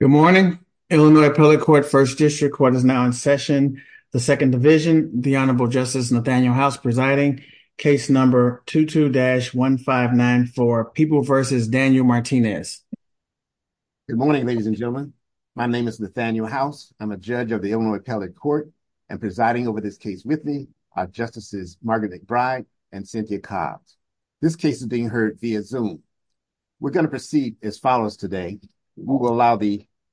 Good morning. Illinois Appellate Court First District Court is now in session. The Second Division, the Honorable Justice Nathaniel House presiding. Case number 22-1594, People v. Daniel Martinez. Good morning, ladies and gentlemen. My name is Nathaniel House. I'm a judge of the Illinois Appellate Court and presiding over this case with me are Justices Margaret McBride and Cynthia Cobbs. This case is being heard via the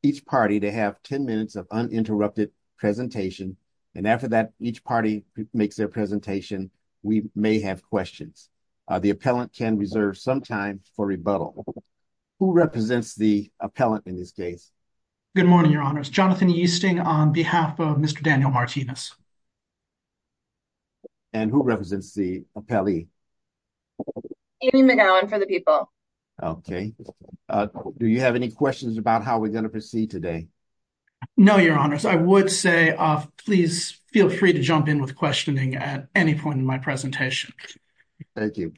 each party to have 10 minutes of uninterrupted presentation. And after that, each party makes their presentation, we may have questions. The appellant can reserve some time for rebuttal. Who represents the appellant in this case? Good morning, Your Honors. Jonathan Yeasting on behalf of Mr. Daniel Martinez. And who represents the appellee? Amy McGowan for the people. Okay. Do you have any questions about how we're going to proceed today? No, Your Honors. I would say, please feel free to jump in with questioning at any point in my presentation. Thank you.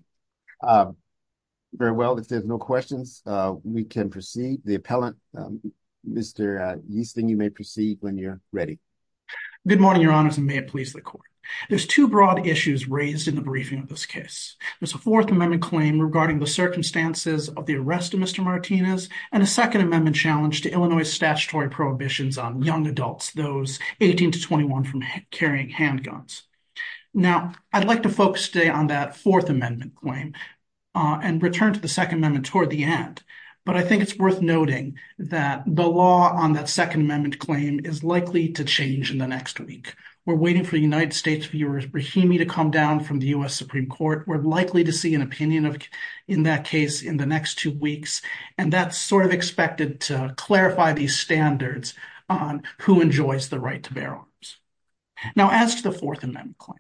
Very well. If there's no questions, we can proceed. The appellant, Mr. Yeasting, you may proceed when you're ready. Good morning, Your Honors, and may it please the Court. There's two broad issues raised in the briefing of this case. There's a Fourth Amendment claim regarding the circumstances of the arrest of Mr. Martinez and a Second Amendment challenge to Illinois statutory prohibitions on young adults, those 18 to 21, from carrying handguns. Now, I'd like to focus today on that Fourth Amendment claim and return to the Second Amendment toward the end. But I think it's worth noting that the law on that Second Amendment claim is likely to change in the next week. We're waiting for United States viewers Brahimi to come down from the U.S. Supreme Court. We're likely to see an opinion in that case in the next two weeks. And that's sort of expected to clarify these standards on who enjoys the right to bear arms. Now, as to the Fourth Amendment claim,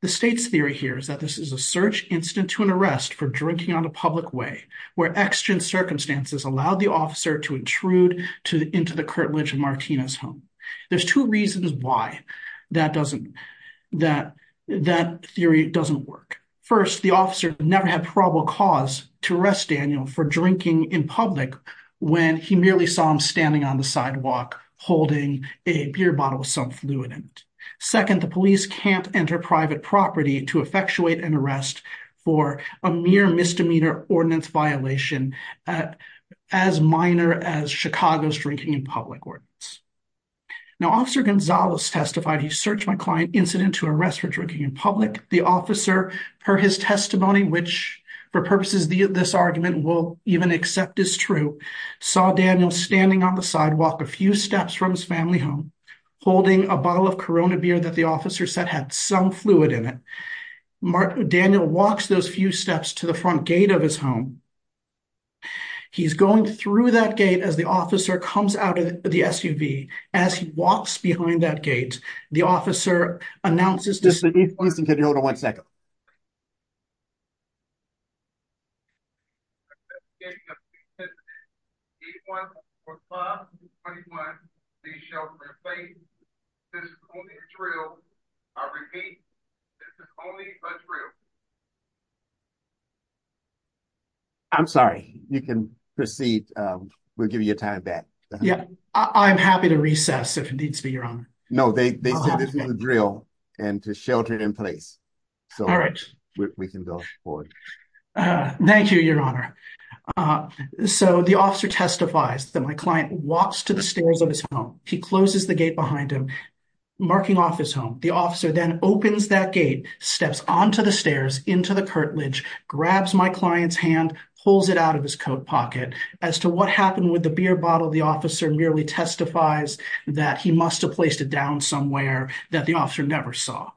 the state's theory here is that this is a search incident to an arrest for drinking on a public way, where extra circumstances allowed the that theory doesn't work. First, the officer never had probable cause to arrest Daniel for drinking in public when he merely saw him standing on the sidewalk holding a beer bottle with some fluid in it. Second, the police can't enter private property to effectuate an arrest for a mere misdemeanor ordinance violation as minor as Chicago's drinking in public ordinance. Now, Officer Gonzalez testified, he searched my client incident to arrest for drinking in public. The officer, per his testimony, which for purposes this argument will even accept is true, saw Daniel standing on the sidewalk a few steps from his family home holding a bottle of Corona beer that the officer said had some fluid in it. Daniel walks those few steps to the front gate of his home. He's going through that gate as the officer comes out of the SUV. As he walks behind that gate, the officer announces this. Hold on one second. I repeat, this is only a drill. I'm sorry, you can proceed. We'll give you a time of that. Yeah, I'm happy to recess if it needs to be your own. No, they drill and to shelter in place. All right, we can go forward. Thank you, Your Honor. So the officer testifies that my client walks to the stairs of his home. He closes the gate behind him, marking off his home. The officer then opens that gate, steps onto the stairs, into the curtilage, grabs my client's hand, pulls it out of his coat pocket. As to what happened with the beer bottle, the officer merely testifies that he must have placed it down somewhere that the officer never saw.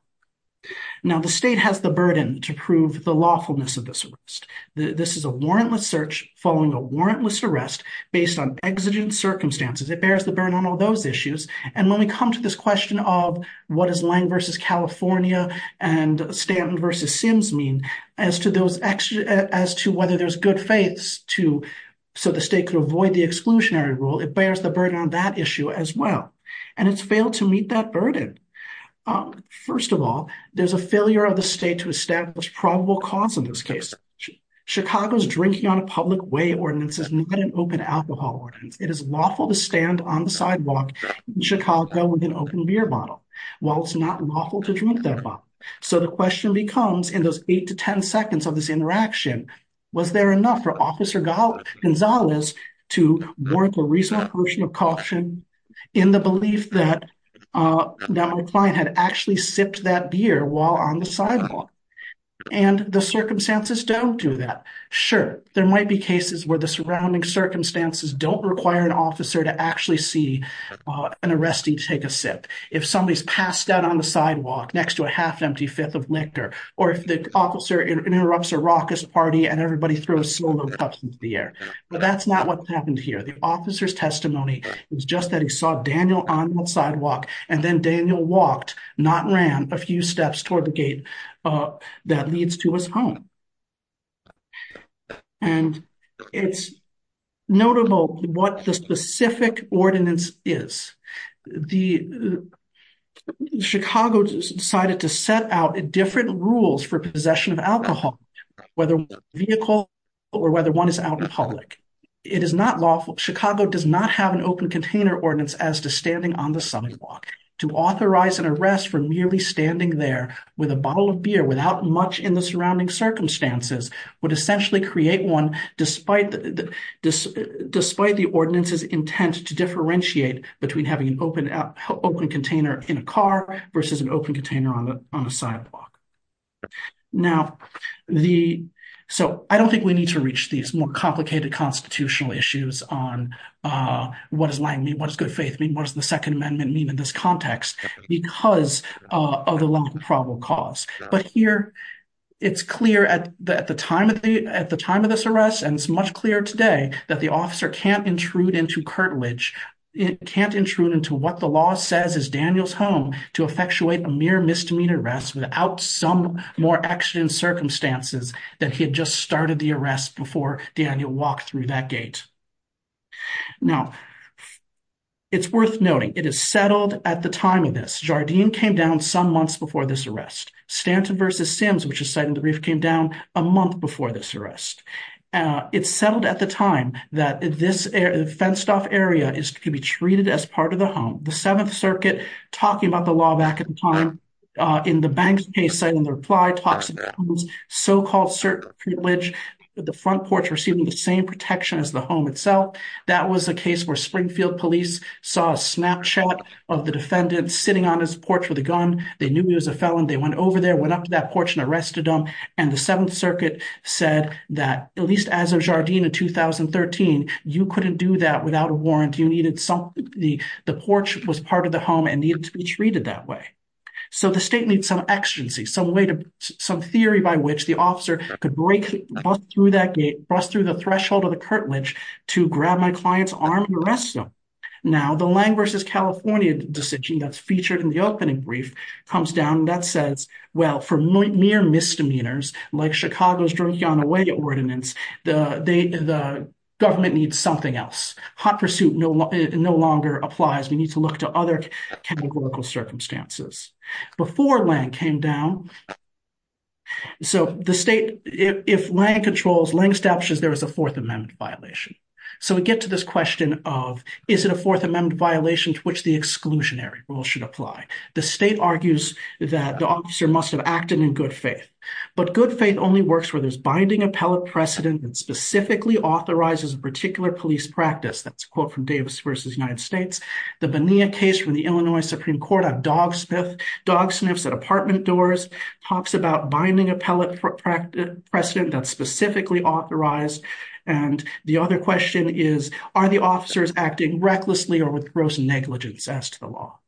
Now the state has the burden to prove the lawfulness of this arrest. This is a warrantless search following a warrantless arrest based on exigent circumstances. It bears the burden on all those issues. And when we come to this question of what is Lange versus California and Stanton versus Sims mean as to whether there's good faiths so the state could avoid the exclusionary rule, it bears the burden on that issue as well. And it's failed to meet that burden. First of all, there's a failure of the state to establish probable cause in this case. Chicago's drinking on a public way ordinance is not an open alcohol ordinance. It is lawful to stand on the sidewalk in Chicago with an open beer bottle, while it's not lawful to drink that bottle. So the question becomes, in those 8 to 10 seconds of this interaction, was there enough for Officer Gonzalez to warrant a reasonable portion of caution in the belief that my client had actually sipped that beer while on the sidewalk? And the circumstances don't do that. Sure, there might be cases where the surrounding circumstances don't require an officer to actually see an arrestee take a sip. If somebody's passed out on the sidewalk next to a half-empty fifth of liquor, or if the officer interrupts a raucous party and everybody throws slow-mo cups into the air. But that's not what happened here. The officer's testimony was just that he saw Daniel on the sidewalk, and then Daniel walked, not ran, a few steps toward the gate that leads to his home. And it's notable what the specific ordinance is. Chicago decided to set out different rules for possession of alcohol, whether one is a vehicle or whether one is out in public. It is not lawful. Chicago does not have an open container ordinance as to standing on the sidewalk. To authorize an arrest for merely standing there with a bottle of beer without much in the surrounding circumstances would essentially create one, despite the ordinance's intent to differentiate between having an open container in a car versus an open container on a sidewalk. Now, so I don't think we need to reach these more complicated constitutional issues on what does lying mean, what does good faith mean, what does the Second Amendment mean in this context, because of the long probable cause. But here, it's clear that at the time of this arrest, and it's much clearer today, that the officer can't intrude into curtilage, it can't intrude into what the law says is Daniel's home to effectuate a mere misdemeanor arrest without some more action and circumstances that he had just started the arrest before Daniel walked through that gate. Now, it's worth noting, it is settled at the time of this. Jardine came down some months before this arrest. Stanton v. Sims, which is site in the Reef, came down a month before this arrest. It's settled at the time that this fenced off area is to be treated as part of the home. The Seventh Circuit, talking about the law back in time, in the Banks case, said in the reply, toxic homes, so-called certain privilege, the front porch receiving the same protection as the home itself. That was a case where Springfield police saw a Snapchat of the defendant sitting on his porch with a gun. They knew he was a felon. They went over there, went up to that porch and arrested him. And the Seventh Circuit said that at least as of Jardine in 2013, you couldn't do that without a warrant, you needed something, the porch was part of the home and needed to be treated that way. So the state needs some exigency, some way to, some theory by which the officer could break through that gate, bust through the threshold of the curtilage to grab my client's arm and arrest him. Now, the Lang v. California decision that's featured in the opening brief comes down and that says, well, for mere misdemeanors, like Chicago's drunk on away ordinance, the government needs something else. Hot pursuit no longer applies. We need to look to other categorical circumstances. Before Lang came down, so the state, if Lang controls, Lang establishes there is a Fourth Amendment violation. So we get to this question of, is it a Fourth Amendment violation to which the exclusionary rule should apply? The state argues that the officer must have acted in good faith, but good faith only works where there's binding appellate precedent that specifically authorizes a particular practice. That's a quote from Davis v. United States. The Bonilla case from the Illinois Supreme Court on dog sniffs at apartment doors talks about binding appellate precedent that's specifically authorized. And the other question is, are the officers acting recklessly or with gross negligence as to the law?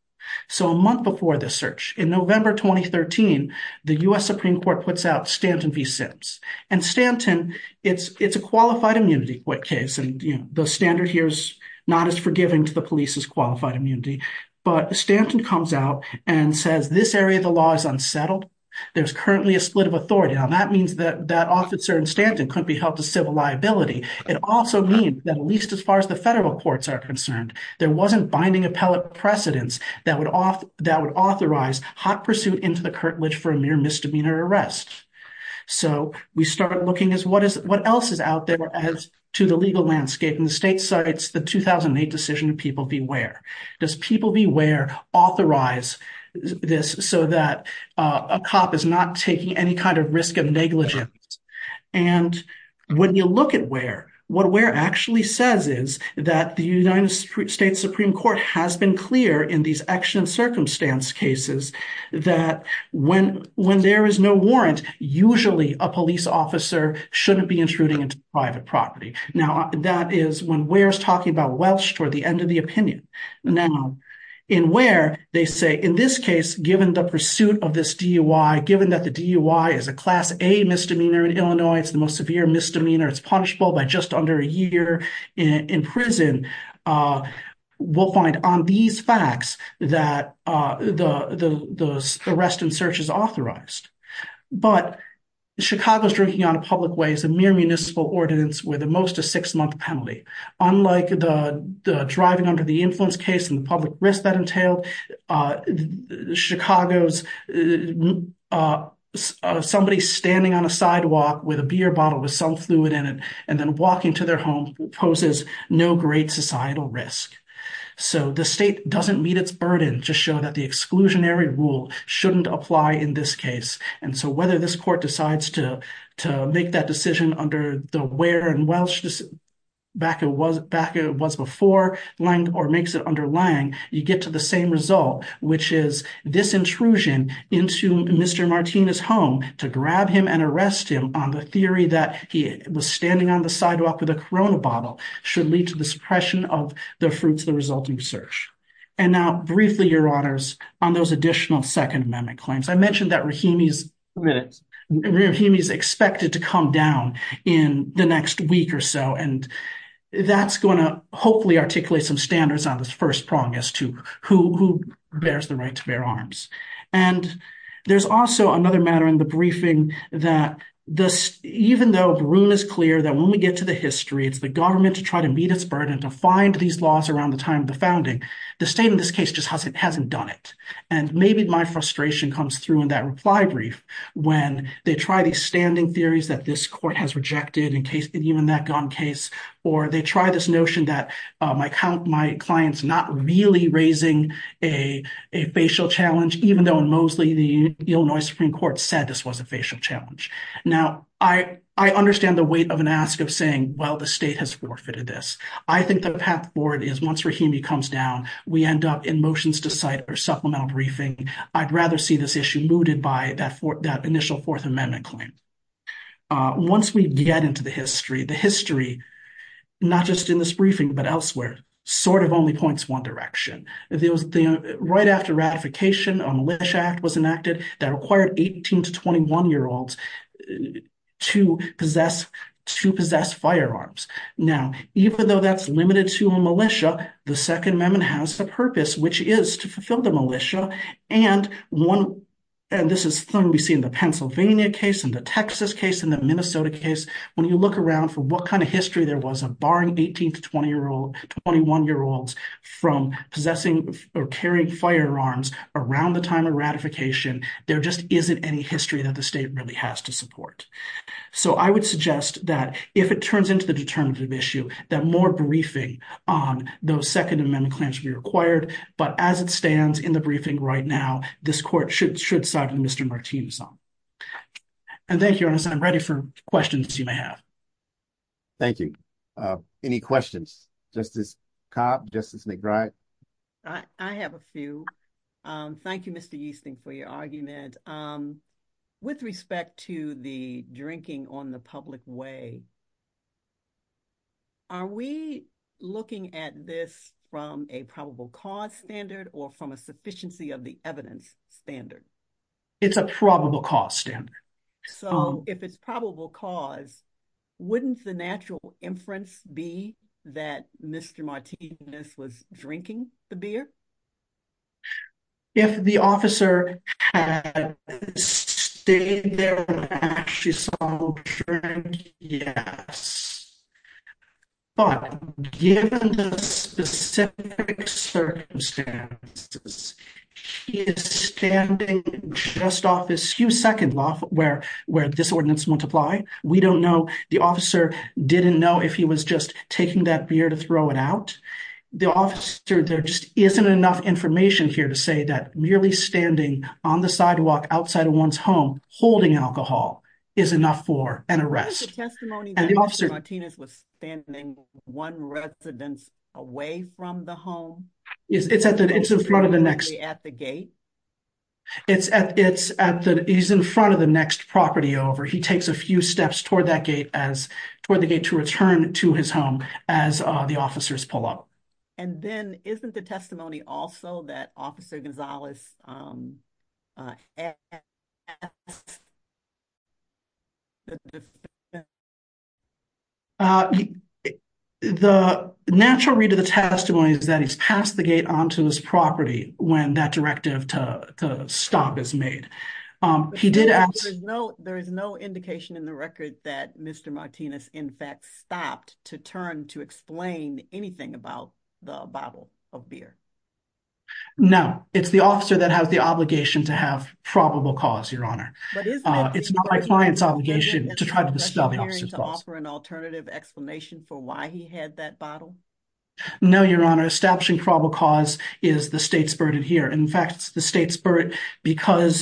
So a month before this search, in November 2013, the U.S. Supreme Court puts out Stanton v. Sims. And Stanton, it's a qualified immunity case. And the standard here is not as forgiving to the police as qualified immunity. But Stanton comes out and says, this area of the law is unsettled. There's currently a split of authority. Now that means that that officer in Stanton couldn't be held to civil liability. It also means that at least as far as the federal courts are concerned, there wasn't binding appellate precedents that would authorize hot pursuit into the curtilage for a mere misdemeanor arrest. So we started looking at what else is out there as to the legal landscape. And the state cites the 2008 decision to people beware. Does people beware authorize this so that a cop is not taking any kind of risk of negligence? And when you look at where, what where actually says is that the United States Supreme Court has been clear in these action circumstance cases that when there is no warrant, usually a police officer shouldn't be intruding into private property. Now that is when where's talking about Welsh toward the end of the opinion. Now, in where they say in this case, given the pursuit of this DUI, given that the DUI is a class A misdemeanor in Illinois, it's the most severe misdemeanor, it's punishable by just under a year in prison. We'll find on these facts that the arrest and search is authorized. But Chicago's drinking on a public way is a mere municipal ordinance with the most of six month penalty. Unlike the driving under the influence case and the public risk that entailed, Chicago's somebody standing on a sidewalk with a beer bottle with some fluid in it, and then walking to their home poses no great societal risk. So the state doesn't meet its burden to show that the exclusionary rule shouldn't apply in this case. And so whether this court decides to to make that decision under the where in Welsh back it was before Lang or makes it under Lang, you get to the same result, which is this intrusion into Mr. Martina's home to grab him and arrest him on the theory that he was standing on the sidewalk with a Corona bottle should lead to the suppression of the fruits of the resulting search. And now briefly, Your Honors, on those additional Second Amendment claims, I mentioned that Rahimi is expected to come down in the next week or so, and that's going to hopefully articulate some standards on this first prong as to who bears the right to bear arms. And there's also another matter in the briefing that this, even though the room is clear that when we get to the history, it's the government to try to meet its burden to find these laws around the time of the founding, the state in this case just hasn't done it. And maybe my frustration comes through in that reply brief, when they try these standing theories that this court has rejected in case even that gun case, or they try this notion that my client's not really raising a facial challenge, even though the Illinois Supreme Court said this was a facial challenge. Now, I understand the weight of an ask of saying, well, the state has forfeited this. I think the path forward is once Rahimi comes down, we end up in motions to cite or supplemental briefing. I'd rather see this issue mooted by that initial Fourth Amendment claim. Once we get into the history, the history, not just in this briefing, but elsewhere, sort of only points one direction. It was right after ratification, a Militia Act was enacted that required 18 to 21-year-olds to possess firearms. Now, even though that's limited to a militia, the Second Amendment has the purpose, which is to fulfill the militia. And this is something we see in the Pennsylvania case, in the Texas case, in the Minnesota case. When you look around for what kind of history there possessing or carrying firearms around the time of ratification, there just isn't any history that the state really has to support. So I would suggest that if it turns into the determinative issue, that more briefing on those Second Amendment claims be required. But as it stands in the briefing right now, this court should side with Mr. Martinez on. And thank you, Ernest. I'm ready for questions you may have. Thank you. Any questions? Justice Cobb? Justice McBride? I have a few. Thank you, Mr. Easton, for your argument. With respect to the drinking on the public way, are we looking at this from a probable cause standard or from a sufficiency of the evidence standard? It's a probable cause standard. So if it's probable cause, wouldn't the natural inference be that Mr. Martinez was drinking the beer? If the officer had stayed there when she saw the drink, yes. But given the specific circumstances, she is standing just off this second loft where disordinance multiply. We don't know. The officer didn't know if he was just taking that beer to throw it out. The officer, there just isn't enough information here to say that merely standing on the sidewalk outside of one's home holding alcohol is enough for an arrest. Was there testimony that Mr. Martinez was standing one residence away from the home? It's in front of the next property over. He takes a few steps toward the gate to return to his home as the officers pull up. And then isn't the he the natural read of the testimony is that he's passed the gate onto his property when that directive to stop is made. He did ask. There is no indication in the record that Mr. Martinez, in fact, stopped to turn to explain anything about the bottle of beer. No, it's the officer that has the obligation to have probable cause, Your Honor. It's not my client's obligation to try to stop an alternative explanation for why he had that bottle. No, Your Honor. Establishing probable cause is the state's burden here. In fact, it's the state's burden because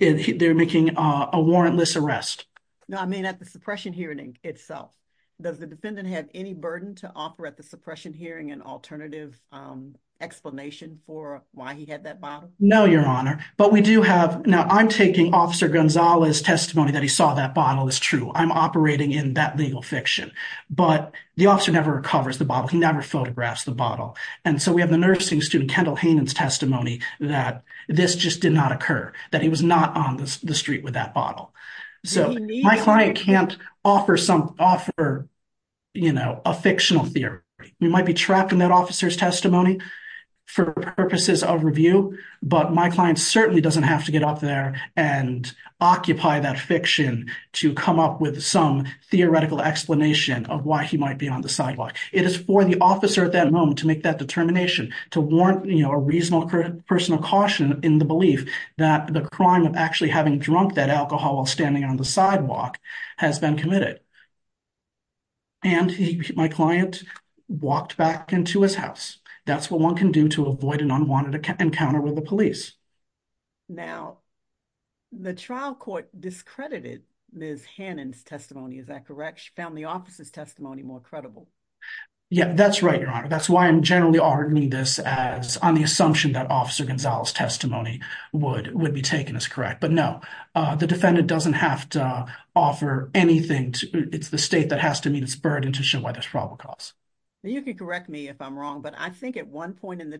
they're making a warrantless arrest. No, I mean, at the suppression hearing itself. Does the defendant have any burden to offer at the suppression hearing an alternative explanation for why he had that bottle? No, Your Honor. But we do have now I'm taking Officer Gonzales testimony that he saw that bottle is true. I'm operating in that legal fiction, but the officer never recovers the bottle. He never photographs the bottle. And so we have the nursing student, Kendall Hanen's testimony that this just did not occur, that he was not on the street with that bottle. So my client can't offer some offer, you know, a fictional theory. You might be trapped in that officer's testimony for purposes of review, but my client certainly doesn't have to get up there and occupy that fiction to come up with some theoretical explanation of why he might be on the sidewalk. It is for the officer at that moment to make that determination, to warrant, you know, a reasonable personal caution in the belief that the crime of actually having drunk that alcohol while standing on the sidewalk has been committed. And my client walked back into his house. That's what one can do to avoid an unwanted encounter with the police. Now, the trial court discredited Ms. Hanen's testimony. Is that correct? She found the officer's testimony more credible. Yeah, that's right, Your Honor. That's why I'm generally arguing this as on the assumption that Officer Gonzales testimony would be taken as correct. But no, the defendant doesn't have to offer anything. It's the state that has to meet its burden to show why there's probable cause. You can correct me if I'm wrong, but I think at one but then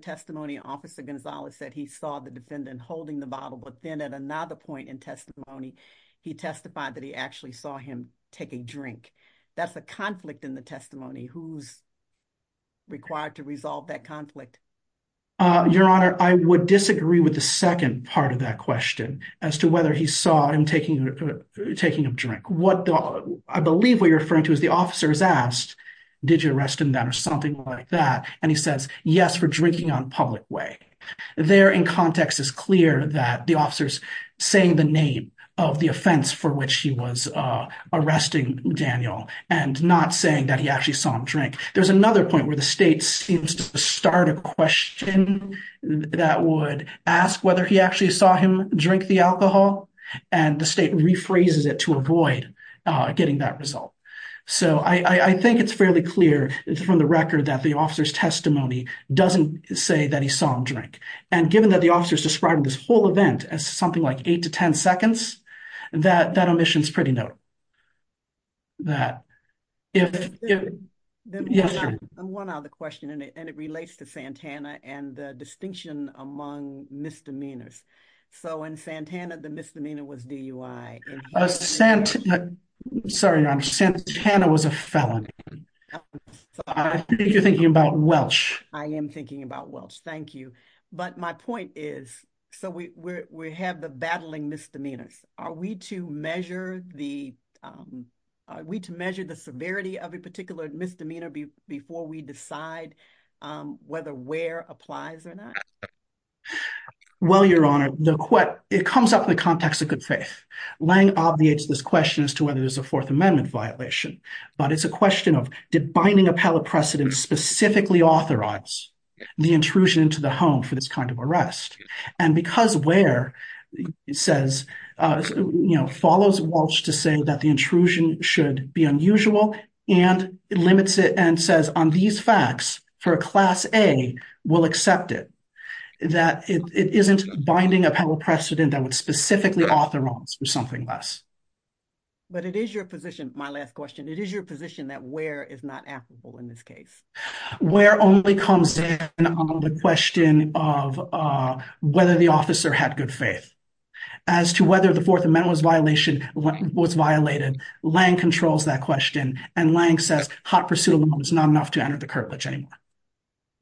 at another point in testimony, he testified that he actually saw him take a drink. That's a conflict in the testimony. Who's required to resolve that conflict? Your Honor, I would disagree with the second part of that question as to whether he saw him taking a drink. What I believe what you're referring to is the officer is asked, did you arrest him that or something like that? And he says, yes, for drinking on public way. There in context is clear that the officers saying the name of the offense for which he was arresting Daniel and not saying that he actually saw him drink. There's another point where the state seems to start a question that would ask whether he actually saw him drink the alcohol and the state rephrases it to avoid getting that result. So I think it's fairly clear from the record that the officer's testimony doesn't say that he saw him drink. And given that the officers described this whole event as something like eight to 10 seconds, that omission is pretty notable. One other question and it relates to Santana and the distinction among misdemeanors. So in Santana, the misdemeanor was DUI. Santana was a felon. I think you're thinking about Welch. I am thinking about Welch. Thank you. But my point is, so we have the battling misdemeanors. Are we to measure the severity of a particular misdemeanor before we decide whether where applies or not? Well, Your Honor, it comes up in the context of good faith. Lange obviates this question as to whether there's a Fourth Amendment violation, but it's a question of did binding appellate precedent specifically authorize the intrusion into the home for this kind of arrest? And because where follows Welch to say that the intrusion should be unusual and limits it and says on facts for a Class A will accept it, that it isn't binding appellate precedent that would specifically authorize or something less. But it is your position, my last question, it is your position that where is not applicable in this case? Where only comes in on the question of whether the officer had good faith. As to whether the Fourth Amendment was violated, Lange controls that question and Lange says hot pursuit alone is not enough to enter the curtilage anymore.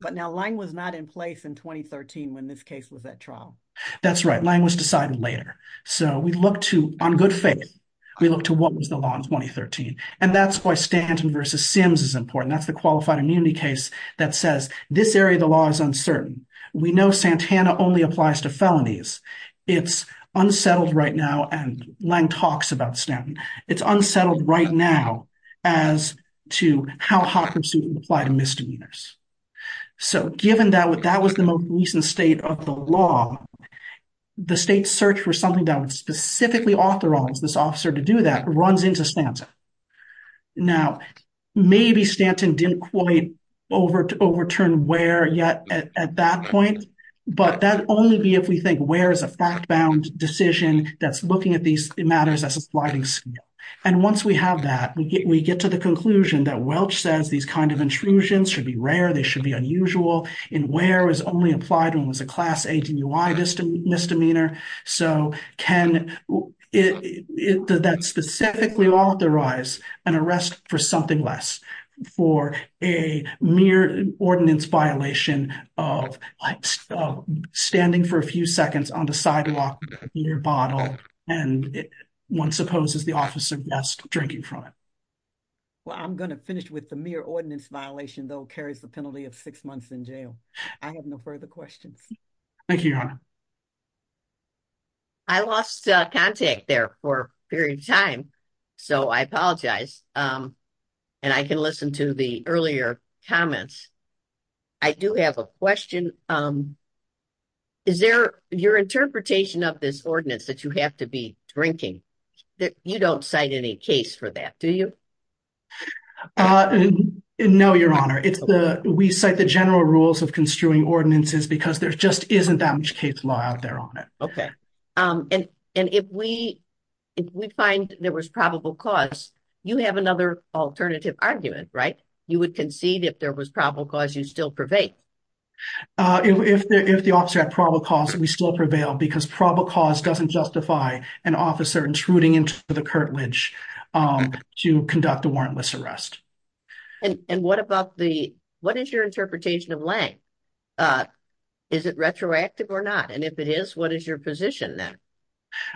But now Lange was not in place in 2013 when this case was at trial. That's right, Lange was decided later. So we look to, on good faith, we look to what was the law in 2013. And that's why Stanton versus Sims is important. That's the qualified immunity case that says this area of the law is uncertain. We know Santana only applies to felonies. It's unsettled right now and Lange talks about Stanton. It's unsettled right now as to how hot pursuit would apply to misdemeanors. So given that that was the most recent state of the law, the state's search for something that would specifically authorize this officer to do that runs into Stanton. Now maybe Stanton didn't quite overturn where yet at that point, but that'd only be if we think where is a fact-bound decision that's looking at these matters as a sliding scale. And once we have that, we get to the conclusion that Welch says these kinds of intrusions should be rare, they should be unusual, and where is only applied when it was a class A to UI misdemeanor. So can that specifically authorize an arrest for something less for a mere ordinance violation of standing for a few seconds on the sidewalk near a bottle and one supposes the officer guessed drinking from it. Well, I'm going to finish with the mere ordinance violation though carries the penalty of six months in jail. I have no further questions. Thank you, Your Honor. I lost contact there for a period of time so I apologize and I can listen to the earlier comments. I do have a question. Is there your interpretation of this ordinance that you have to be drinking that you don't cite any case for that, do you? No, Your Honor. It's the we cite the general rules of construing ordinances because there just isn't that much case law out there on it. Okay. And if we find there was probable cause, you have another alternative argument, right? You would concede if there was probable cause you still prevail. If the officer had probable cause we still prevail because probable cause doesn't justify an officer intruding into the curtilage to conduct a warrantless arrest. And what about the, what is your interpretation of Lange? Is it retroactive or not? And if it is, what is your position then?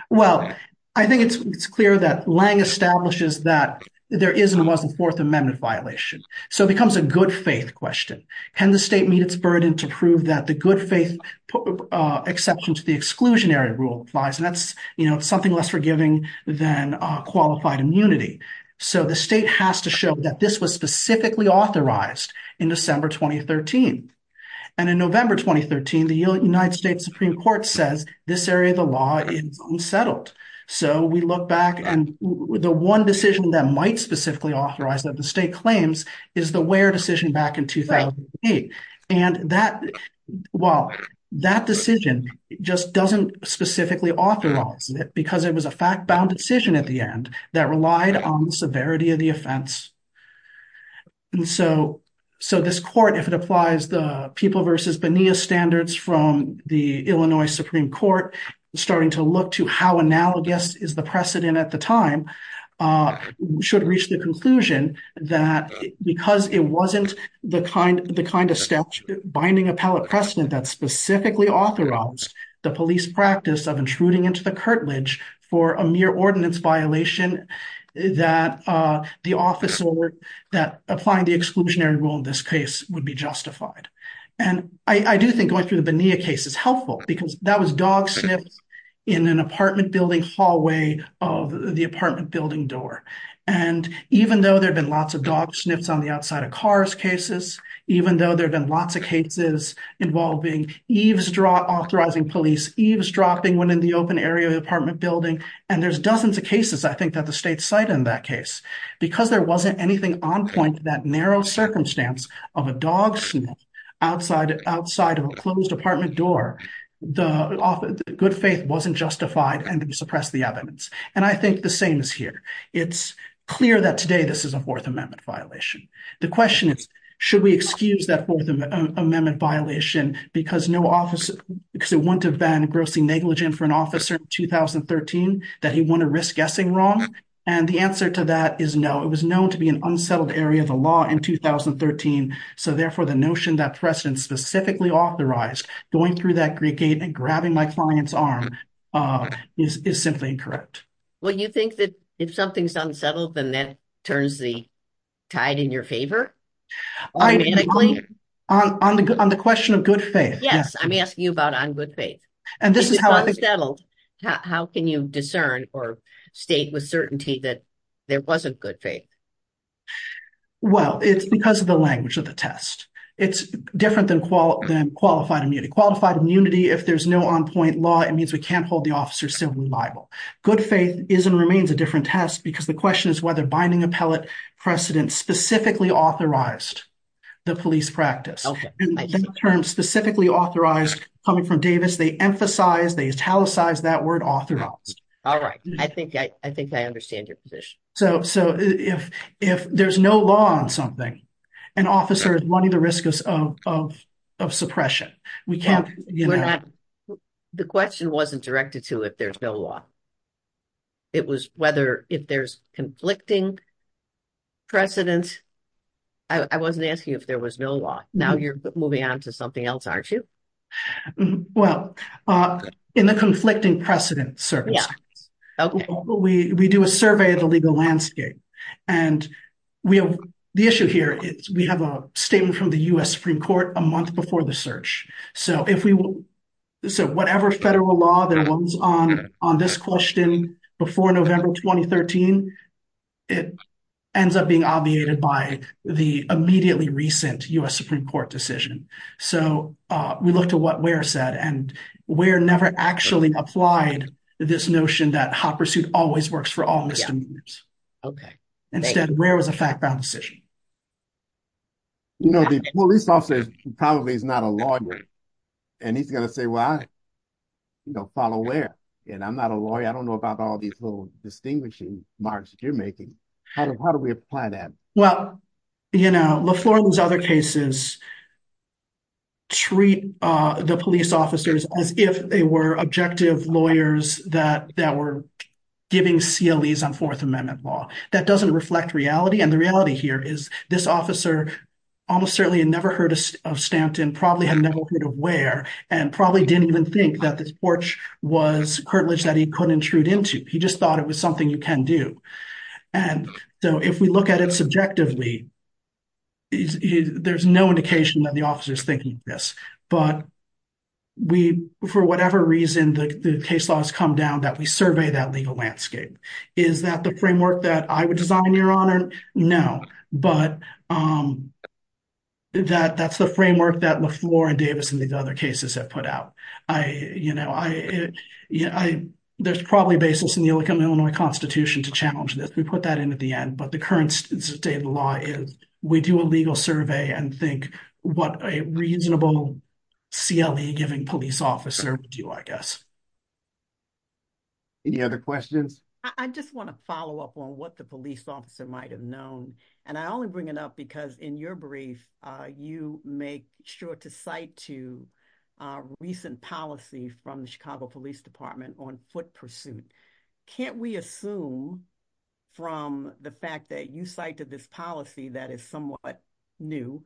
Well, I think it's clear that Lange establishes that there is and wasn't fourth amendment violation so it becomes a good faith question. Can the state meet its burden to prove that the good faith exception to the exclusionary rule applies? And that's, you know, something less forgiving than qualified immunity. So the state has to show that this was specifically authorized in December 2013. And in November 2013, the United States Supreme Court says this area of the law is unsettled. So we look back and the one decision that might specifically authorize that the state claims is the Ware decision back in 2008. And that, well, that decision just doesn't specifically authorize it because it was a fact-bound decision at the end that relied on the severity of the offense. And so this court, if it applies the People v. Bonilla standards from the Illinois Supreme Court, starting to look to how analogous is the precedent at the time, should reach the because it wasn't the kind of statute binding appellate precedent that specifically authorized the police practice of intruding into the curtilage for a mere ordinance violation that the officer that applying the exclusionary rule in this case would be justified. And I do think going through the Bonilla case is helpful because that was dog sniffs in an apartment building hallway of the apartment building door. And even though there'd been lots of dog sniffs on the outside of cars cases, even though there'd been lots of cases involving eavesdropping, authorizing police eavesdropping when in the open area of the apartment building, and there's dozens of cases I think that the state cited in that case, because there wasn't anything on point to that narrow circumstance of a dog sniff outside of a closed apartment door, the good faith wasn't justified and suppressed the evidence. And I think the same is here. It's clear that today this is a Fourth Amendment violation. The question is, should we excuse that Fourth Amendment violation because it wouldn't have been grossly negligent for an officer in 2013 that he wouldn't have risked guessing wrong? And the answer to that is no, it was known to be an unsettled area of the law in 2013. So therefore, the notion that precedent specifically authorized going through that gate and grabbing my client's arm is simply incorrect. Well, you think that if something's unsettled, then that turns the tide in your favor? On the on the question of good faith. Yes, I'm asking you about on good faith. And this is how I settled. How can you discern or state with certainty that there wasn't good faith? Well, it's because of the language of the test. It's different than qual than qualified immunity, qualified immunity. If there's no on point law, it means we can't hold the officer simply liable. Good faith is and remains a different test. Because the question is whether binding appellate precedent specifically authorized the police practice, term specifically authorized coming from Davis, they emphasize they italicize that word authorized. All right. I think I think I understand your position. So so if, if there's no law on something, an officer is running the risk of suppression, we can't. The question wasn't directed to if there's no law. It was whether if there's conflicting precedence. I wasn't asking if there was no law. Now you're moving on to something else, aren't you? Well, in the conflicting precedent service, we do a survey of the legal landscape. And we have the issue here is we have a statement from the US Supreme Court a month before the search. So if we will, so whatever federal law that was on on this question, before November 2013, it ends up being obviated by the immediately recent US Supreme Court decision. So we looked at what were said, and we're never actually applied this notion that hot pursuit always works for all misdemeanors. Okay. Instead, where was a fact bound decision? You know, the police officer probably is not a lawyer. And he's gonna say, well, I, you know, follow where? And I'm not a lawyer. I don't know about all these little distinguishing marks you're making. How do we apply that? Well, you know, LaFleur and those other cases treat the police officers as if they were objective lawyers that that were giving CLEs on Fourth Amendment law. That doesn't reflect reality. And the reality here is this officer almost certainly had never heard of Stanton, probably had never heard of Ware, and probably didn't even think that this porch was curtilage that he could intrude into. He just thought it was something you can do. And so if we look at it subjectively, there's no indication that the officer's thinking this. But we, for whatever reason, the case laws come down that we survey that legal landscape. Is that the framework that I would design, Your Honor? No. But that's the framework that LaFleur and Davis and these other cases have put out. There's probably a basis in the Illinois Constitution to challenge this. We put that in at the end. But the current state of the law is we do a legal survey and think what a reasonable CLE giving police officer would do, I guess. Any other questions? I just want to follow up on what the police officer might have known. And I only bring it up because in your brief, you make sure to cite to recent policy from the Chicago Police Department on foot pursuit. Can't we assume from the fact that you cited this policy that is somewhat new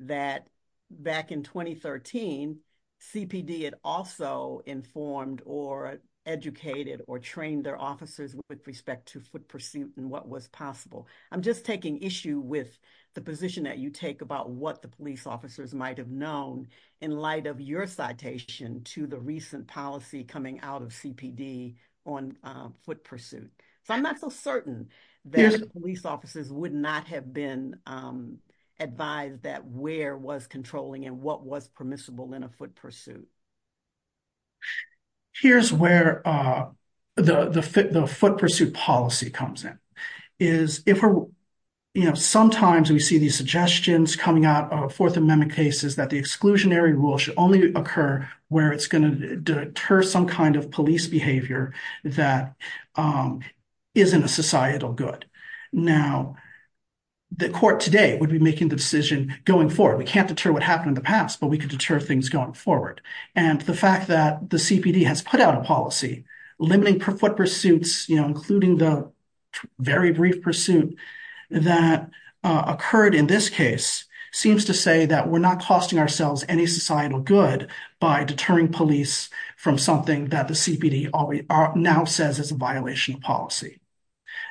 that back in 2013, CPD had also informed or educated or trained their officers with respect to foot pursuit and what was possible? I'm just taking issue with the position that you take about what the police officers might have known in light of your citation to the recent policy coming out of CPD on foot pursuit. So I'm so certain that police officers would not have been advised that where was controlling and what was permissible in a foot pursuit. Here's where the foot pursuit policy comes in. Sometimes we see these suggestions coming out of Fourth Amendment cases that the exclusionary rule should only occur where it's going to deter some kind of police behavior that isn't a societal good. Now, the court today would be making the decision going forward. We can't deter what happened in the past, but we can deter things going forward. And the fact that the CPD has put out a policy limiting foot pursuits, you know, including the very brief pursuit that occurred in this case seems to say that we're not costing ourselves any societal good by deterring police from something that the CPD now says is a violation of policy.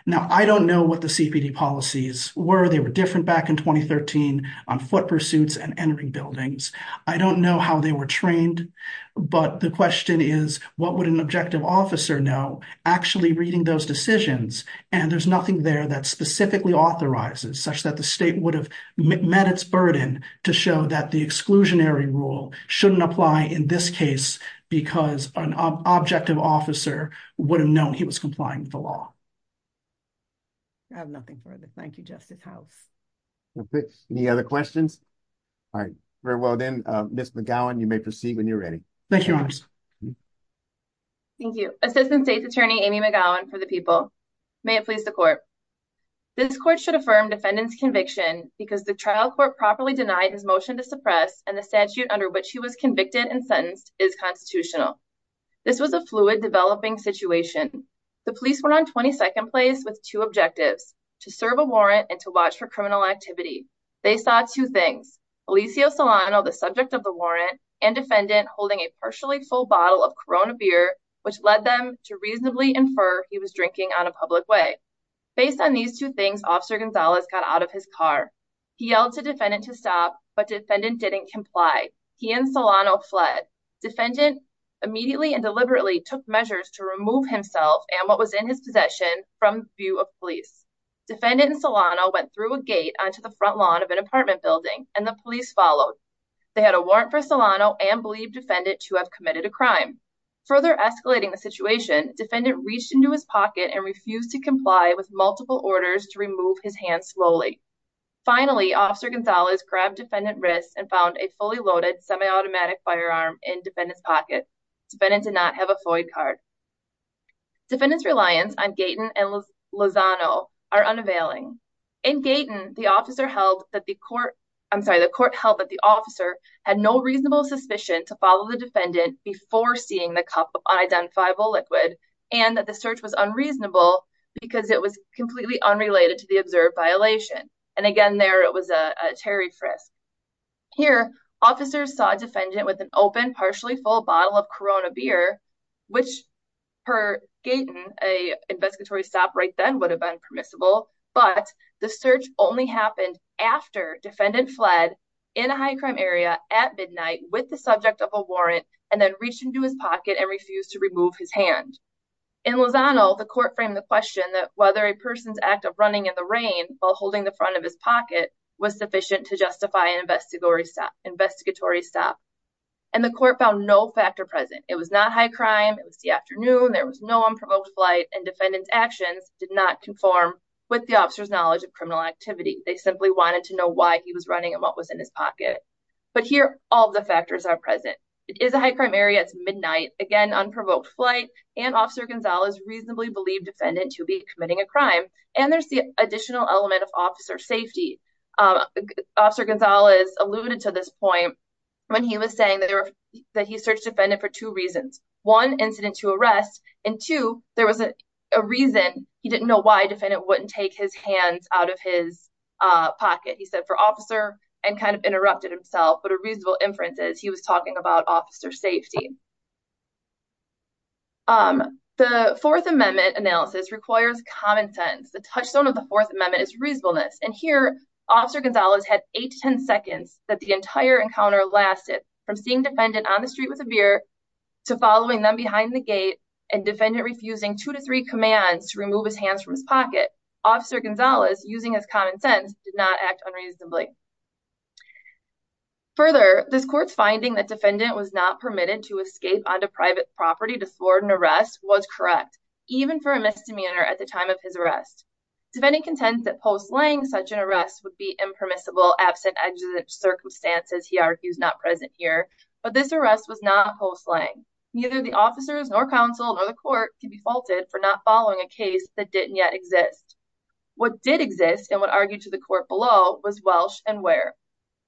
Now, I don't know what the CPD policies were. They were different back in 2013 on foot pursuits and entering buildings. I don't know how they were trained, but the question is, what would an objective officer know actually reading those decisions? And there's nothing there that specifically authorizes such that the state would have met its burden to show that the exclusionary rule shouldn't apply in this case because an objective officer would have known he was complying with the law. I have nothing further. Thank you, Justice House. Any other questions? All right. Very well then, Ms. McGowan, you may proceed when you're ready. Thank you, Your Honor. Thank you. Assistant State's Attorney Amy McGowan for the People. May it please the court. This is a case that I'm very interested in because the trial court properly denied his motion to suppress and the statute under which he was convicted and sentenced is constitutional. This was a fluid developing situation. The police were on 22nd place with two objectives, to serve a warrant and to watch for criminal activity. They saw two things, Eliseo Solano, the subject of the warrant, and defendant holding a partially full bottle of Corona beer, which led them to reasonably infer he was drinking on a public way. Based on these two things, Officer Gonzalez got out of his car. He yelled to defendant to stop, but defendant didn't comply. He and Solano fled. Defendant immediately and deliberately took measures to remove himself and what was in his possession from view of police. Defendant and Solano went through a gate onto the front lawn of an apartment building and the police followed. They had a warrant for Solano and believed defendant to have committed a crime. Further escalating the situation, defendant reached into his pocket and refused to comply with multiple orders to remove his hands slowly. Finally, Officer Gonzalez grabbed defendant wrist and found a fully loaded semi-automatic firearm in defendant's pocket. Defendant did not have a Floyd card. Defendant's reliance on Gaten and Lozano are unavailing. In Gaten, the court held that the officer had no reasonable suspicion to follow the defendant before seeing the cup of unidentifiable liquid and that the search was unreasonable because it was completely unrelated to the observed violation. And again, there it was a terry frisk. Here, officers saw defendant with an open partially full bottle of Corona beer, which per Gaten, a investigatory stop right then would have been permissible, but the search only happened after and refused to remove his hand. In Lozano, the court framed the question that whether a person's act of running in the rain while holding the front of his pocket was sufficient to justify an investigatory stop. And the court found no factor present. It was not high crime. It was the afternoon. There was no unprovoked flight and defendant's actions did not conform with the officer's knowledge of criminal activity. They simply wanted to know why he was running and was in his pocket. But here, all the factors are present. It is a high crime area. It's midnight. Again, unprovoked flight and officer Gonzalez reasonably believed defendant to be committing a crime. And there's the additional element of officer safety. Officer Gonzalez alluded to this point when he was saying that he searched defendant for two reasons. One, incident to arrest. And two, there was a reason he didn't know why defendant wouldn't take his hands out of his pocket. He said for officer and kind of interrupted himself. But a reasonable inference is he was talking about officer safety. The Fourth Amendment analysis requires common sense. The touchstone of the Fourth Amendment is reasonableness. And here, officer Gonzalez had eight to ten seconds that the entire encounter lasted from seeing defendant on the street with a beer to following them behind the gate and defendant refusing two to three commands to remove his hands from his pocket. Officer Gonzalez, using his common sense, did not act unreasonably. Further, this court's finding that defendant was not permitted to escape onto private property to thwart an arrest was correct, even for a misdemeanor at the time of his arrest. Defendant contends that post-slaying such an arrest would be impermissible, absent exigent circumstances, he argues, not present here. But this arrest was not post-slaying. Neither the officers nor counsel nor the court can be faulted for not following a case that didn't yet exist. What did exist and what argued to the court below was Welsh and Ware.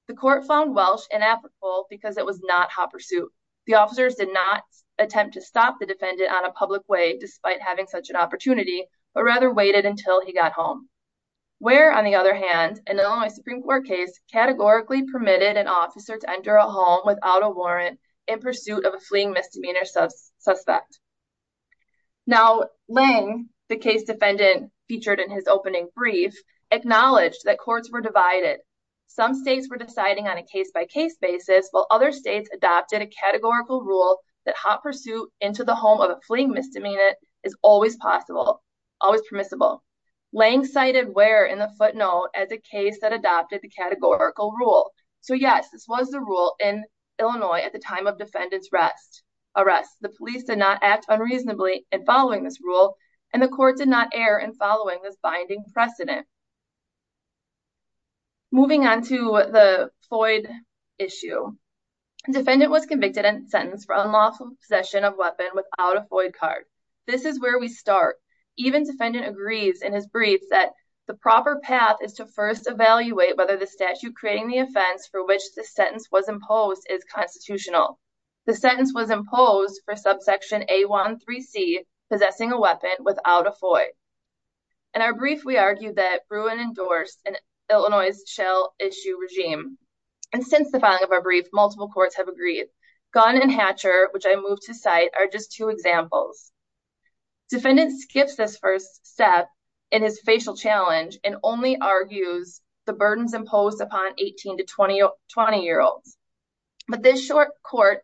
The court found Welsh inapplicable because it was not hot pursuit. The officers did not attempt to stop the defendant on a public way despite having such an opportunity, but rather waited until he got home. Ware, on the other hand, in an Illinois Supreme Court case, categorically permitted an officer to enter a home without a warrant in pursuit of a fleeing misdemeanor suspect. Now, Lange, the case defendant featured in his opening brief, acknowledged that courts were divided. Some states were deciding on a case-by-case basis while other states adopted a categorical rule that hot pursuit into the home of a fleeing misdemeanor is always possible, always permissible. Lange cited Ware in the footnote as a case that adopted the categorical rule. So, yes, this was the rule in Illinois at the time of defendant's arrest. The police did not act unreasonably in following this rule and the court did not err in following this binding precedent. Moving on to the Floyd issue, defendant was convicted and sentenced for unlawful possession of weapon without a Floyd card. This is where we start. Even defendant agrees in his brief that the proper path is to first evaluate whether the statute creating the offense for which the without a Floyd. In our brief, we argue that Bruin endorsed an Illinois shell issue regime. And since the filing of our brief, multiple courts have agreed. Gunn and Hatcher, which I moved to cite, are just two examples. Defendant skips this first step in his facial challenge and only argues the burdens imposed upon 18 to 20-year-olds. But this short court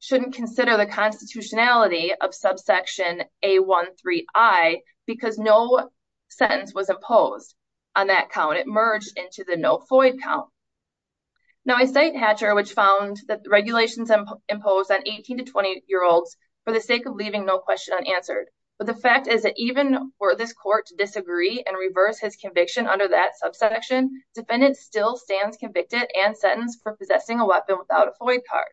shouldn't consider the constitutionality of subsection A13I because no sentence was imposed on that count. It merged into the no Floyd count. Now, I cite Hatcher, which found that regulations imposed on 18 to 20-year-olds for the sake of leaving no question unanswered. But the fact is that even for this court to disagree and reverse his conviction under that subsection, defendant still stands convicted and sentenced for possessing a weapon without a Floyd card.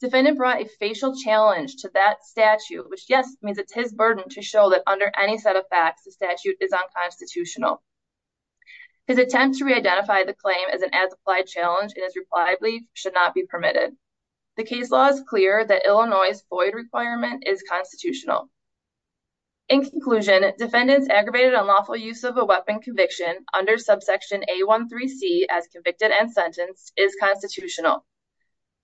Defendant brought a facial challenge to that statute, which, yes, means it's his burden to show that under any set of facts, the statute is unconstitutional. His attempt to re-identify the claim as an as-applied challenge, it is reliably should not be permitted. The case law is clear that Illinois' Floyd requirement is constitutional. In conclusion, defendant's aggravated unlawful use of a weapon conviction under subsection A13C as convicted and sentenced is constitutional.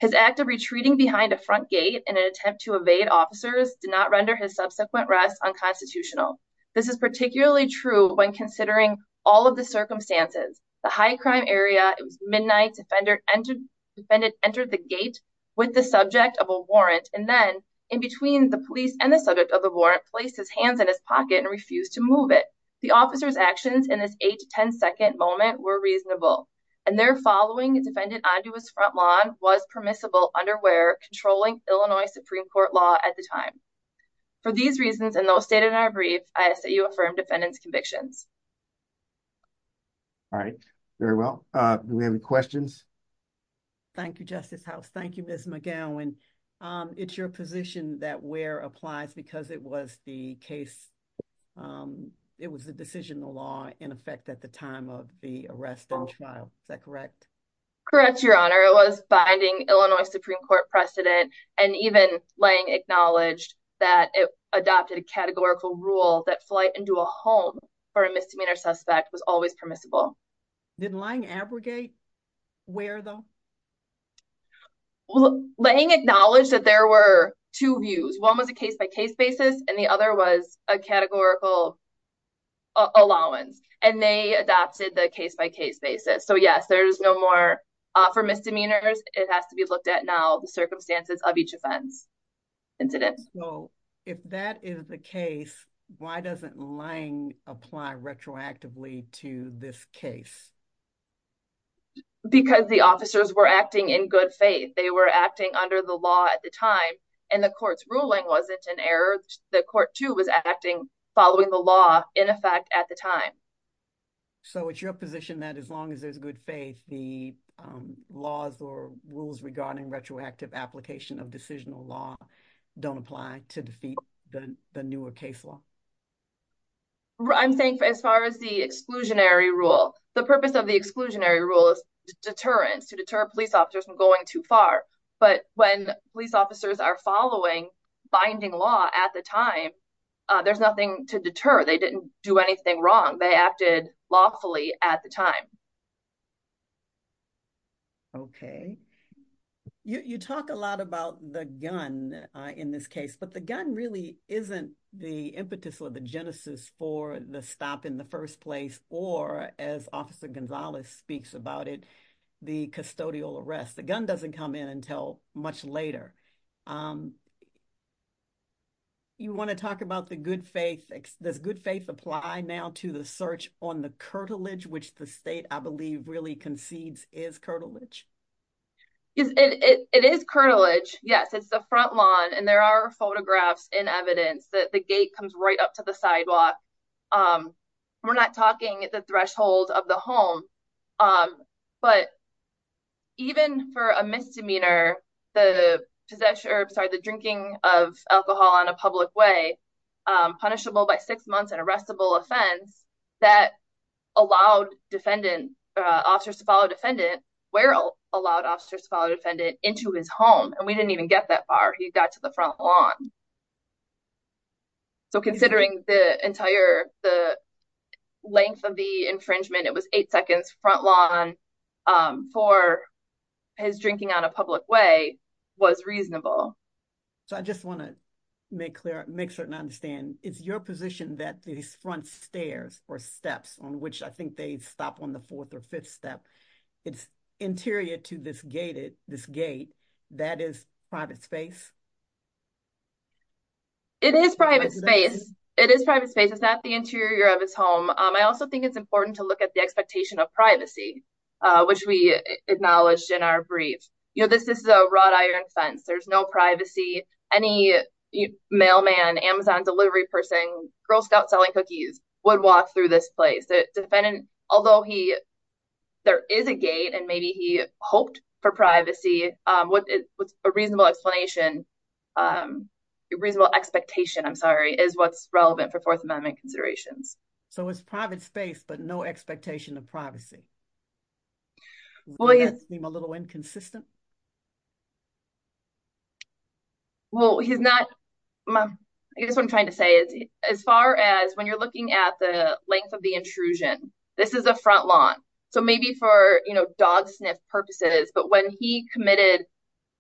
His act of retreating behind a front gate in an attempt to evade officers did not render his subsequent arrest unconstitutional. This is particularly true when considering all of the circumstances. The high crime area, it was midnight, defendant entered the gate with the subject of a warrant, and then in between the police and the subject of the warrant, placed his hands in his pocket and refused to move it. The officer's actions in this eight to ten second moment were reasonable, and their following defendant onto his front lawn was permissible under where controlling Illinois Supreme Court law at the time. For these reasons, and those stated in our brief, I say you affirm defendant's convictions. All right, very well. Do we have any questions? Thank you, Justice House. Thank you, Ms. McGowan. It's your position that where applies because it was the case, it was the decisional law in effect at the time of the arrest and trial. Is that correct? Correct, Your Honor. It was binding Illinois Supreme Court precedent, and even Lange acknowledged that it adopted a categorical rule that flight into a home for a misdemeanor suspect was always permissible. Did Lange abrogate where though? Lange acknowledged that there were two views. One was a case-by-case basis, and the other was a categorical allowance, and they adopted the case-by-case basis. So yes, there is no more for misdemeanors. It has to be looked at now the circumstances of each offense incident. So if that is the case, why doesn't Lange apply retroactively to this case? Because the officers were acting in good faith. They were acting under the law at the time, and the court's ruling wasn't an error. The court too was acting following the law in effect at the time. So it's your position that as long as there's good faith, the laws or rules regarding retroactive application of decisional law don't apply to defeat the newer case law? I'm saying as far as the exclusionary rule, the purpose of the exclusionary rule is deterrence, to deter police officers from going too far. But when police officers are following binding law at the time, there's nothing to deter. They didn't do anything wrong. They acted lawfully at the time. Okay. You talk a lot about the gun in this case, but the gun really isn't the impetus or the genesis for the stop in the first place, or as Officer Gonzalez speaks about it, the custodial arrest. The gun doesn't come in until much later. You want to talk about the good faith. Does good faith apply now to the search on the curtilage, which the state, I believe, really concedes is curtilage? It is curtilage. Yes. It's the front lawn, and there are photographs and evidence that the gate comes right up to the sidewalk. We're not talking the threshold of the home, but even for a misdemeanor, the possession, or I'm sorry, the drinking of alcohol on a public way, punishable by six months and arrestable offense that allowed officers to follow defendant, where allowed officers to follow defendant into his home, and we didn't even get that far. He got to the front lawn. Considering the entire length of the infringement, it was eight seconds front lawn for his drinking on a public way was reasonable. I just want to make certain I understand. It's your position that these front stairs or steps on which I think they stop on the fourth or fifth step, it's interior to this gate. That is private space? It is private space. It is private space. It's not the interior of his home. I also think it's important to look at the expectation of privacy, which we acknowledged in our brief. You know, this is a wrought iron fence. There's no privacy. Any mailman, Amazon delivery person, Girl Scout selling cookies would walk through this place. Although there is a gate and maybe he had a reasonable expectation, I'm sorry, is what's relevant for Fourth Amendment considerations. So it's private space, but no expectation of privacy. Will that seem a little inconsistent? Well, he's not. I guess what I'm trying to say is, as far as when you're looking at the length of the intrusion, this is a front lawn. So maybe for, you know, dog sniff purposes, but when he committed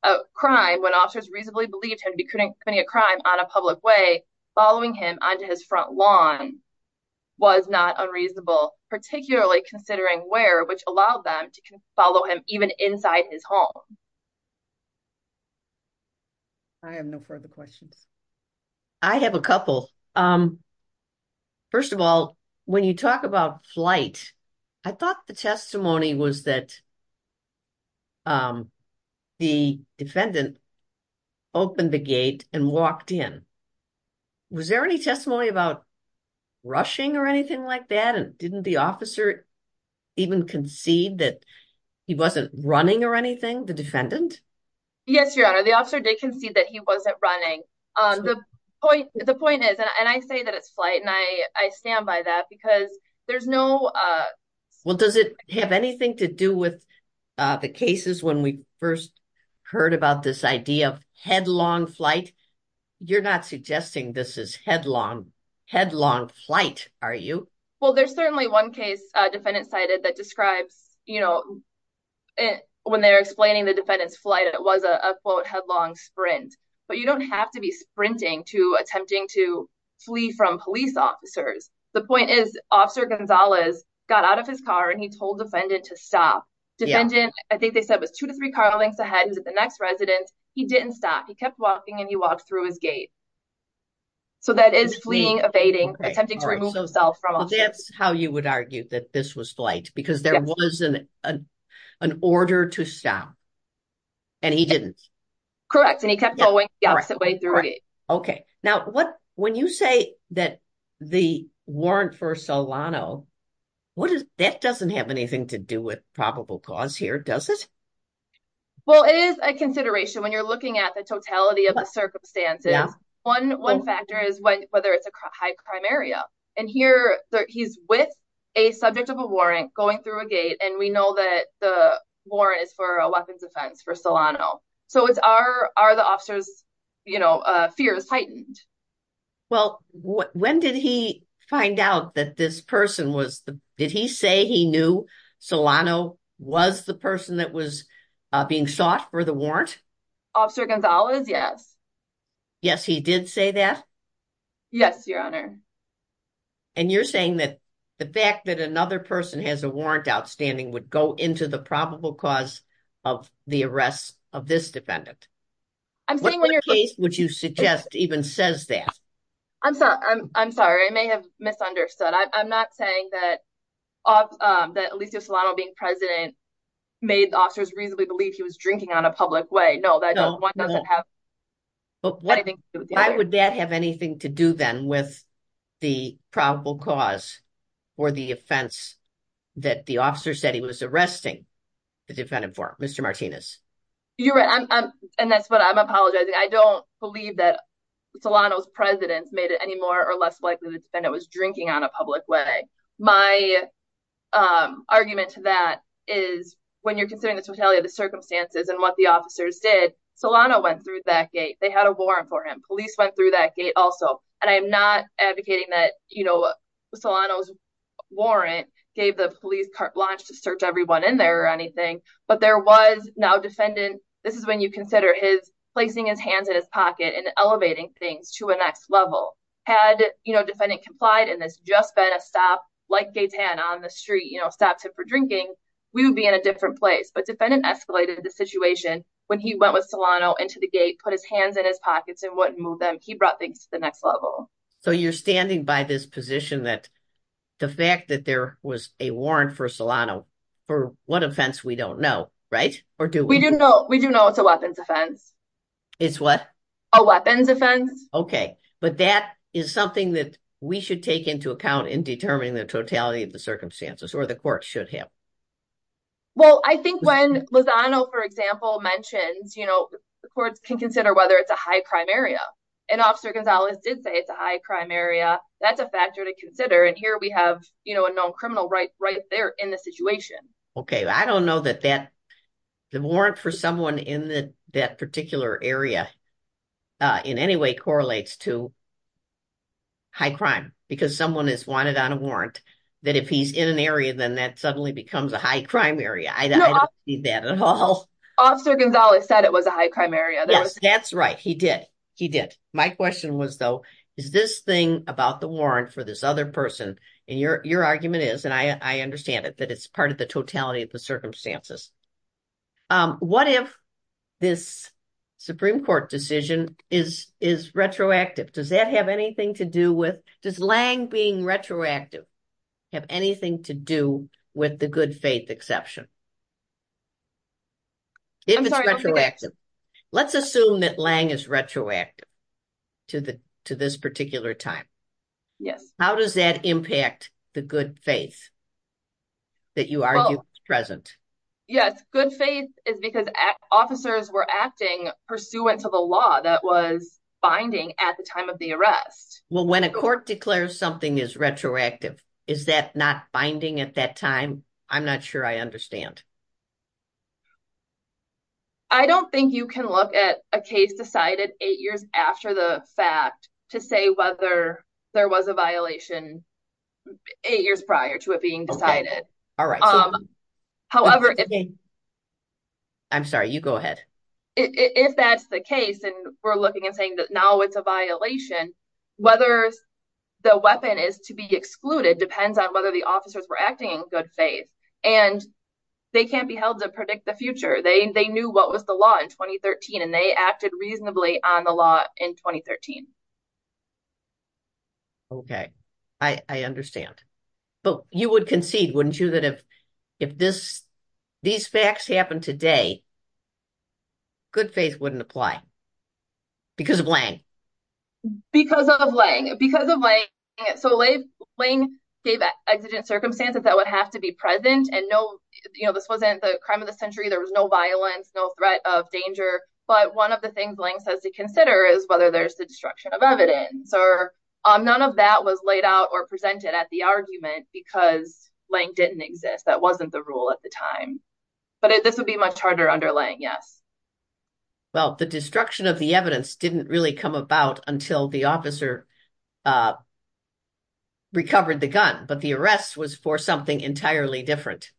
a crime, when officers reasonably believed him to be committing a crime on a public way, following him onto his front lawn was not unreasonable, particularly considering where, which allowed them to follow him even inside his home. I have no further questions. I have a couple. First of all, when you talk about flight, I thought the testimony was that the defendant opened the gate and walked in. Was there any testimony about rushing or anything like that? And didn't the officer even concede that he wasn't running or anything, the defendant? Yes, Your Honor, the officer did concede that he wasn't running. The point is, and I say that it's flight, and I stand by that because there's no... Does it have anything to do with the cases when we first heard about this idea of headlong flight? You're not suggesting this is headlong flight, are you? Well, there's certainly one case a defendant cited that describes, you know, when they're explaining the defendant's flight, it was a quote, headlong sprint, but you don't have to be sprinting to attempting to flee from police officers. The point is, got out of his car and he told defendant to stop. Defendant, I think they said it was two to three car lengths ahead. He's at the next residence. He didn't stop. He kept walking and he walked through his gate. So that is fleeing, evading, attempting to remove himself from... That's how you would argue that this was flight, because there was an order to stop and he didn't. Correct. And he kept going the opposite way through it. Okay. Now, when you say that the warrant for Solano, that doesn't have anything to do with probable cause here, does it? Well, it is a consideration when you're looking at the totality of the circumstances. One factor is whether it's a high crime area. And here he's with a subject of a warrant going through a gate, and we know that the warrant is for a weapons offense for Solano. So it's, are the officer's fears heightened? Well, when did he find out that this person was... Did he say he knew Solano was the person that was being sought for the warrant? Officer Gonzalez? Yes. Yes, he did say that? Yes, Your Honor. And you're saying that the fact that another person has a warrant outstanding would go into the probable cause of the arrest of this defendant? I'm saying when you're... What case would you suggest even says that? I'm sorry. I'm sorry. I may have misunderstood. I'm not saying that Alicia Solano being president made officers reasonably believe he was drinking on a public way. No, that one doesn't have anything to do with the other. But why would that have anything to do then with the probable cause or the offense that the officer said he was arresting the defendant for? Mr. Martinez? You're right. And that's what I'm apologizing. I don't believe that Solano's president made it any more or less likely the defendant was drinking on a public way. My argument to that is when you're considering the totality of the circumstances and what the officers did, Solano went through that gate. They had a warrant for him. Police went through that gate also. And I'm not advocating that Solano's warrant gave the police car launch to search everyone in there or anything. But there was now defendant, this is when you consider his placing his hands in his pocket and elevating things to a next level. Had defendant complied and this just been a stop like Gaytan on the street, stops him for drinking, we would be in a different place. But defendant escalated the situation when he went with Solano into the gate, put his hands in his pockets and wouldn't move them. He brought things to the next level. So you're standing by this position that the fact that there was a warrant for Solano, for what offense we don't know, right? We do know it's a weapons offense. It's what? A weapons offense. Okay. But that is something that we should take into account in determining the totality of the circumstances or the court should have. Well, I think when Lozano, for example, mentions, you know, the courts can consider whether it's a high crime area and officer Gonzalez did say it's a high crime area. That's a factor to consider. And here we have, you know, a known criminal right there in the situation. Okay. I don't know that the warrant for someone in that particular area in any way correlates to high crime because someone is wanted on a warrant that if he's in an area, then that suddenly becomes a high crime area. I don't see that at all. Officer Gonzalez said it was a high crime area. That's right. He did. He did. My question was though, is this thing about the warrant for this other person? And your argument is, and I understand it, that it's part of the totality of the circumstances. What if this Supreme Court decision is retroactive? Does that have anything to do with, does Lange being retroactive have anything to do with the good faith exception? If it's retroactive, let's assume that Lange is retroactive to this particular time. Yes. How does that impact the good faith that you argue is present? Yes. Good faith is because officers were acting pursuant to the law that was binding at the time of the arrest. Well, when a court declares something is retroactive, is that not binding at that time? I'm not sure I understand. I don't think you can look at a case decided eight years after the fact to say whether there was a violation eight years prior to it being decided. However- I'm sorry, you go ahead. If that's the case and we're looking and saying that now it's a violation, whether the weapon is to be excluded depends on whether the officers were acting in good faith, and they can't be held to predict the future. They knew what was the law in 2013, and they acted reasonably on the law in 2013. Okay. I understand. But you would concede, wouldn't you, that if these facts happen today, good faith wouldn't apply because of Lange? Because of Lange. So Lange gave exigent circumstances that would have to be present, and this wasn't the crime of the century. There was no violence, no threat of danger. But one of the things Lange says to consider is whether there's the destruction of evidence, or none of that was laid out or presented at the argument because Lange didn't exist. That wasn't the rule at the time. But this would be much harder under Lange, yes. Well, the destruction of the evidence didn't really come about until the officer recovered the gun, but the arrest was for something entirely different,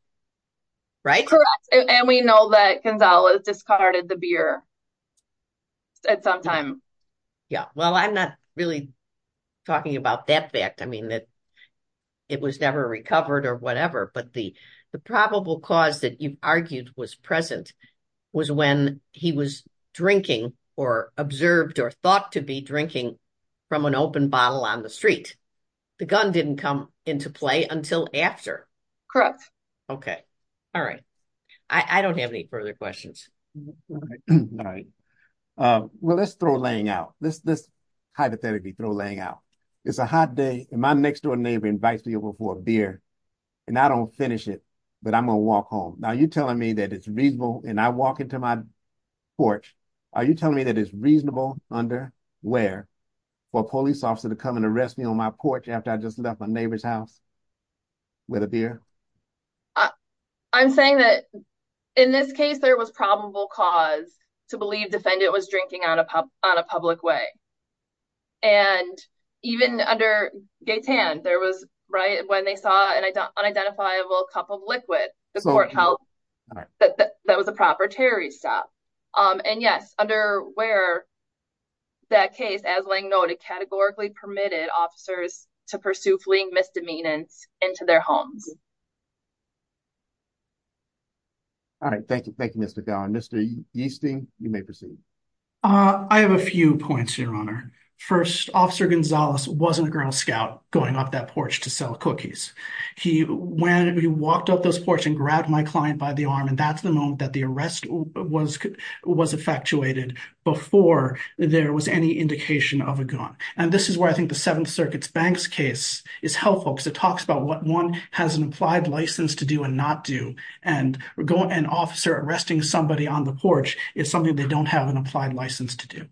right? Correct. And we know that Gonzalez discarded the beer at some time. Yeah. Well, I'm not really talking about that fact. I mean, it was never recovered or whatever, but the probable cause that you've argued was present was when he was drinking or observed or thought to be drinking from an open bottle on the street. The gun didn't come into play until after. Correct. Okay. All right. I don't have any further questions. All right. Well, let's throw Lange out. Let's hypothetically throw Lange out. It's a hot day, and my next door neighbor invites me over for a beer, and I don't finish it, but I'm going to walk home. Now, you're telling me that it's reasonable, and I walk into my porch, are you telling me that it's reasonable under where for a police officer to come and arrest me on my porch after I just left my neighbor's house with a beer? I'm saying that in this case, there was probable cause to believe defendant was drinking on a public way. And even under Gaetan, there was, right, when they saw an unidentifiable cup of liquid, the court held that that was a proper terrorist stop. And yes, under where that case, as Lange noted, categorically permitted officers to pursue fleeing misdemeanors into their homes. All right. Thank you. Thank you, Mr. Gowan. Mr. Yeastie, you may proceed. I have a few points, your honor. First, Officer Gonzalez wasn't a ground scout going up that porch to sell cookies. He walked up those porch and grabbed my client by the arm, and that's the moment that the arrest was effectuated before there was any indication of a gun. And this is where I think the Seventh Circuit's Banks case is helpful, because it talks about what one has in mind, what an officer has an implied license to do and not do, and an officer arresting somebody on the porch is something they don't have an applied license to do.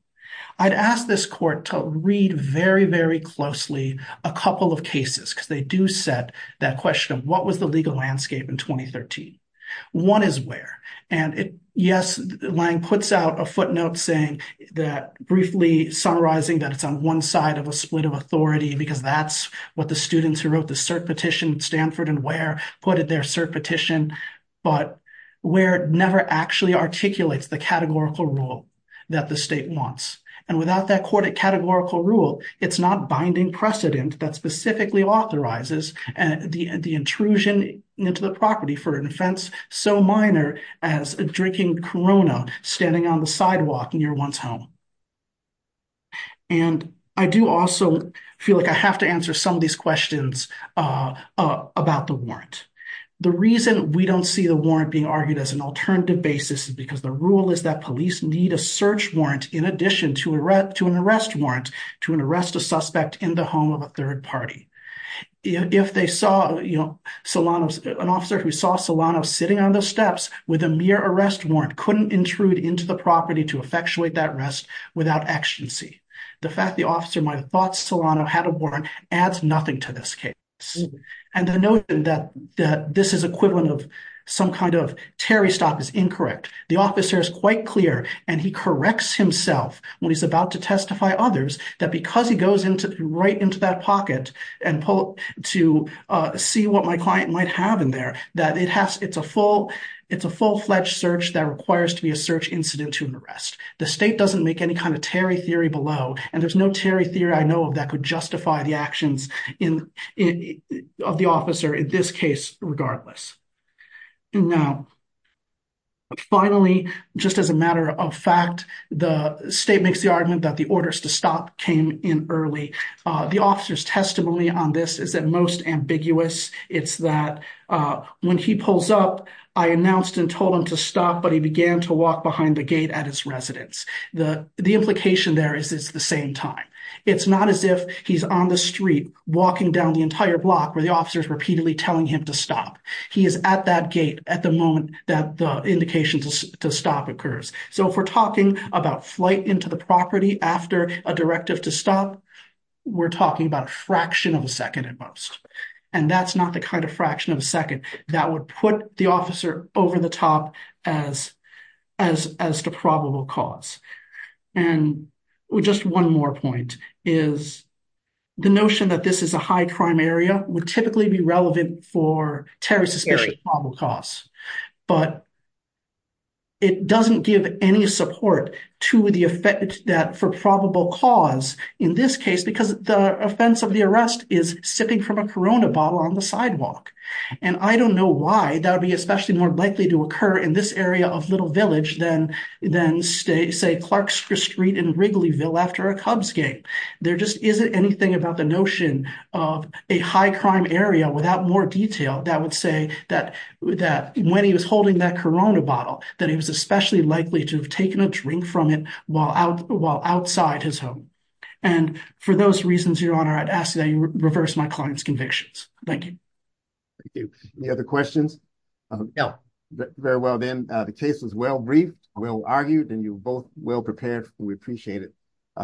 I'd ask this court to read very, very closely a couple of cases, because they do set that question of what was the legal landscape in 2013. One is where. And yes, Lange puts out a footnote saying that, briefly summarizing that it's on one side of a split of authority, because that's what the students who wrote the cert petition, Stanford and Ware, put in their cert petition. But Ware never actually articulates the categorical rule that the state wants. And without that categorical rule, it's not binding precedent that specifically authorizes the intrusion into the property for an offense so minor as drinking Corona standing on the sidewalk near one's home. And I do also feel like I have to answer some of these questions about the warrant. The reason we don't see the warrant being argued as an alternative basis is because the rule is that police need a search warrant in addition to an arrest warrant to arrest a suspect in the home of a third party. If they saw, you know, an officer who saw Solano sitting on the steps with a mere arrest warrant couldn't intrude into the property to effectuate that arrest without exigency. The fact the officer might have thought Solano had a warrant adds nothing to this case. And the notion that this is equivalent of some kind of Terry stop is incorrect. The officer is quite clear, and he corrects himself when he's about to testify others that because he goes into right into that pocket and pull to see what my client might have in there, that it has, it's a full, it's a full search warrant, and it requires to be a search incident to an arrest. The state doesn't make any kind of Terry theory below, and there's no Terry theory I know of that could justify the actions in, of the officer in this case regardless. Now, finally, just as a matter of fact, the state makes the argument that the orders to stop came in early. The officer's testimony on this is at most a fraction of a second. And that's not the kind of fraction of a second that would put the officer over the top as, as, as the probable cause. And just one more point is the notion that this is a high crime area would typically be relevant for Terry suspicious probable cause, but it doesn't give any support to the effect that for probable cause in this case, because the offense of the arrest is sipping from a Corona bottle on the sidewalk. And I don't know why that would be especially more likely to occur in this area of Little Village than, than stay, say Clark Street in Wrigleyville after a Cubs game. There just isn't anything about the notion of a high crime area without more detail that would say that, that when he was holding that Corona bottle, that he was especially likely to have taken a drink from it while out, while outside his home. And for those reasons, Your Honor, I'd ask that you reverse my client's convictions. Thank you. Thank you. Any other questions? No. Very well. Then the case was well briefed, well argued, and you both well prepared. We appreciate it.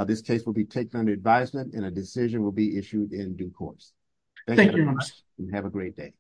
This case will be taken under advisement and a decision will be issued in due course. Thank you very much. Have a great day.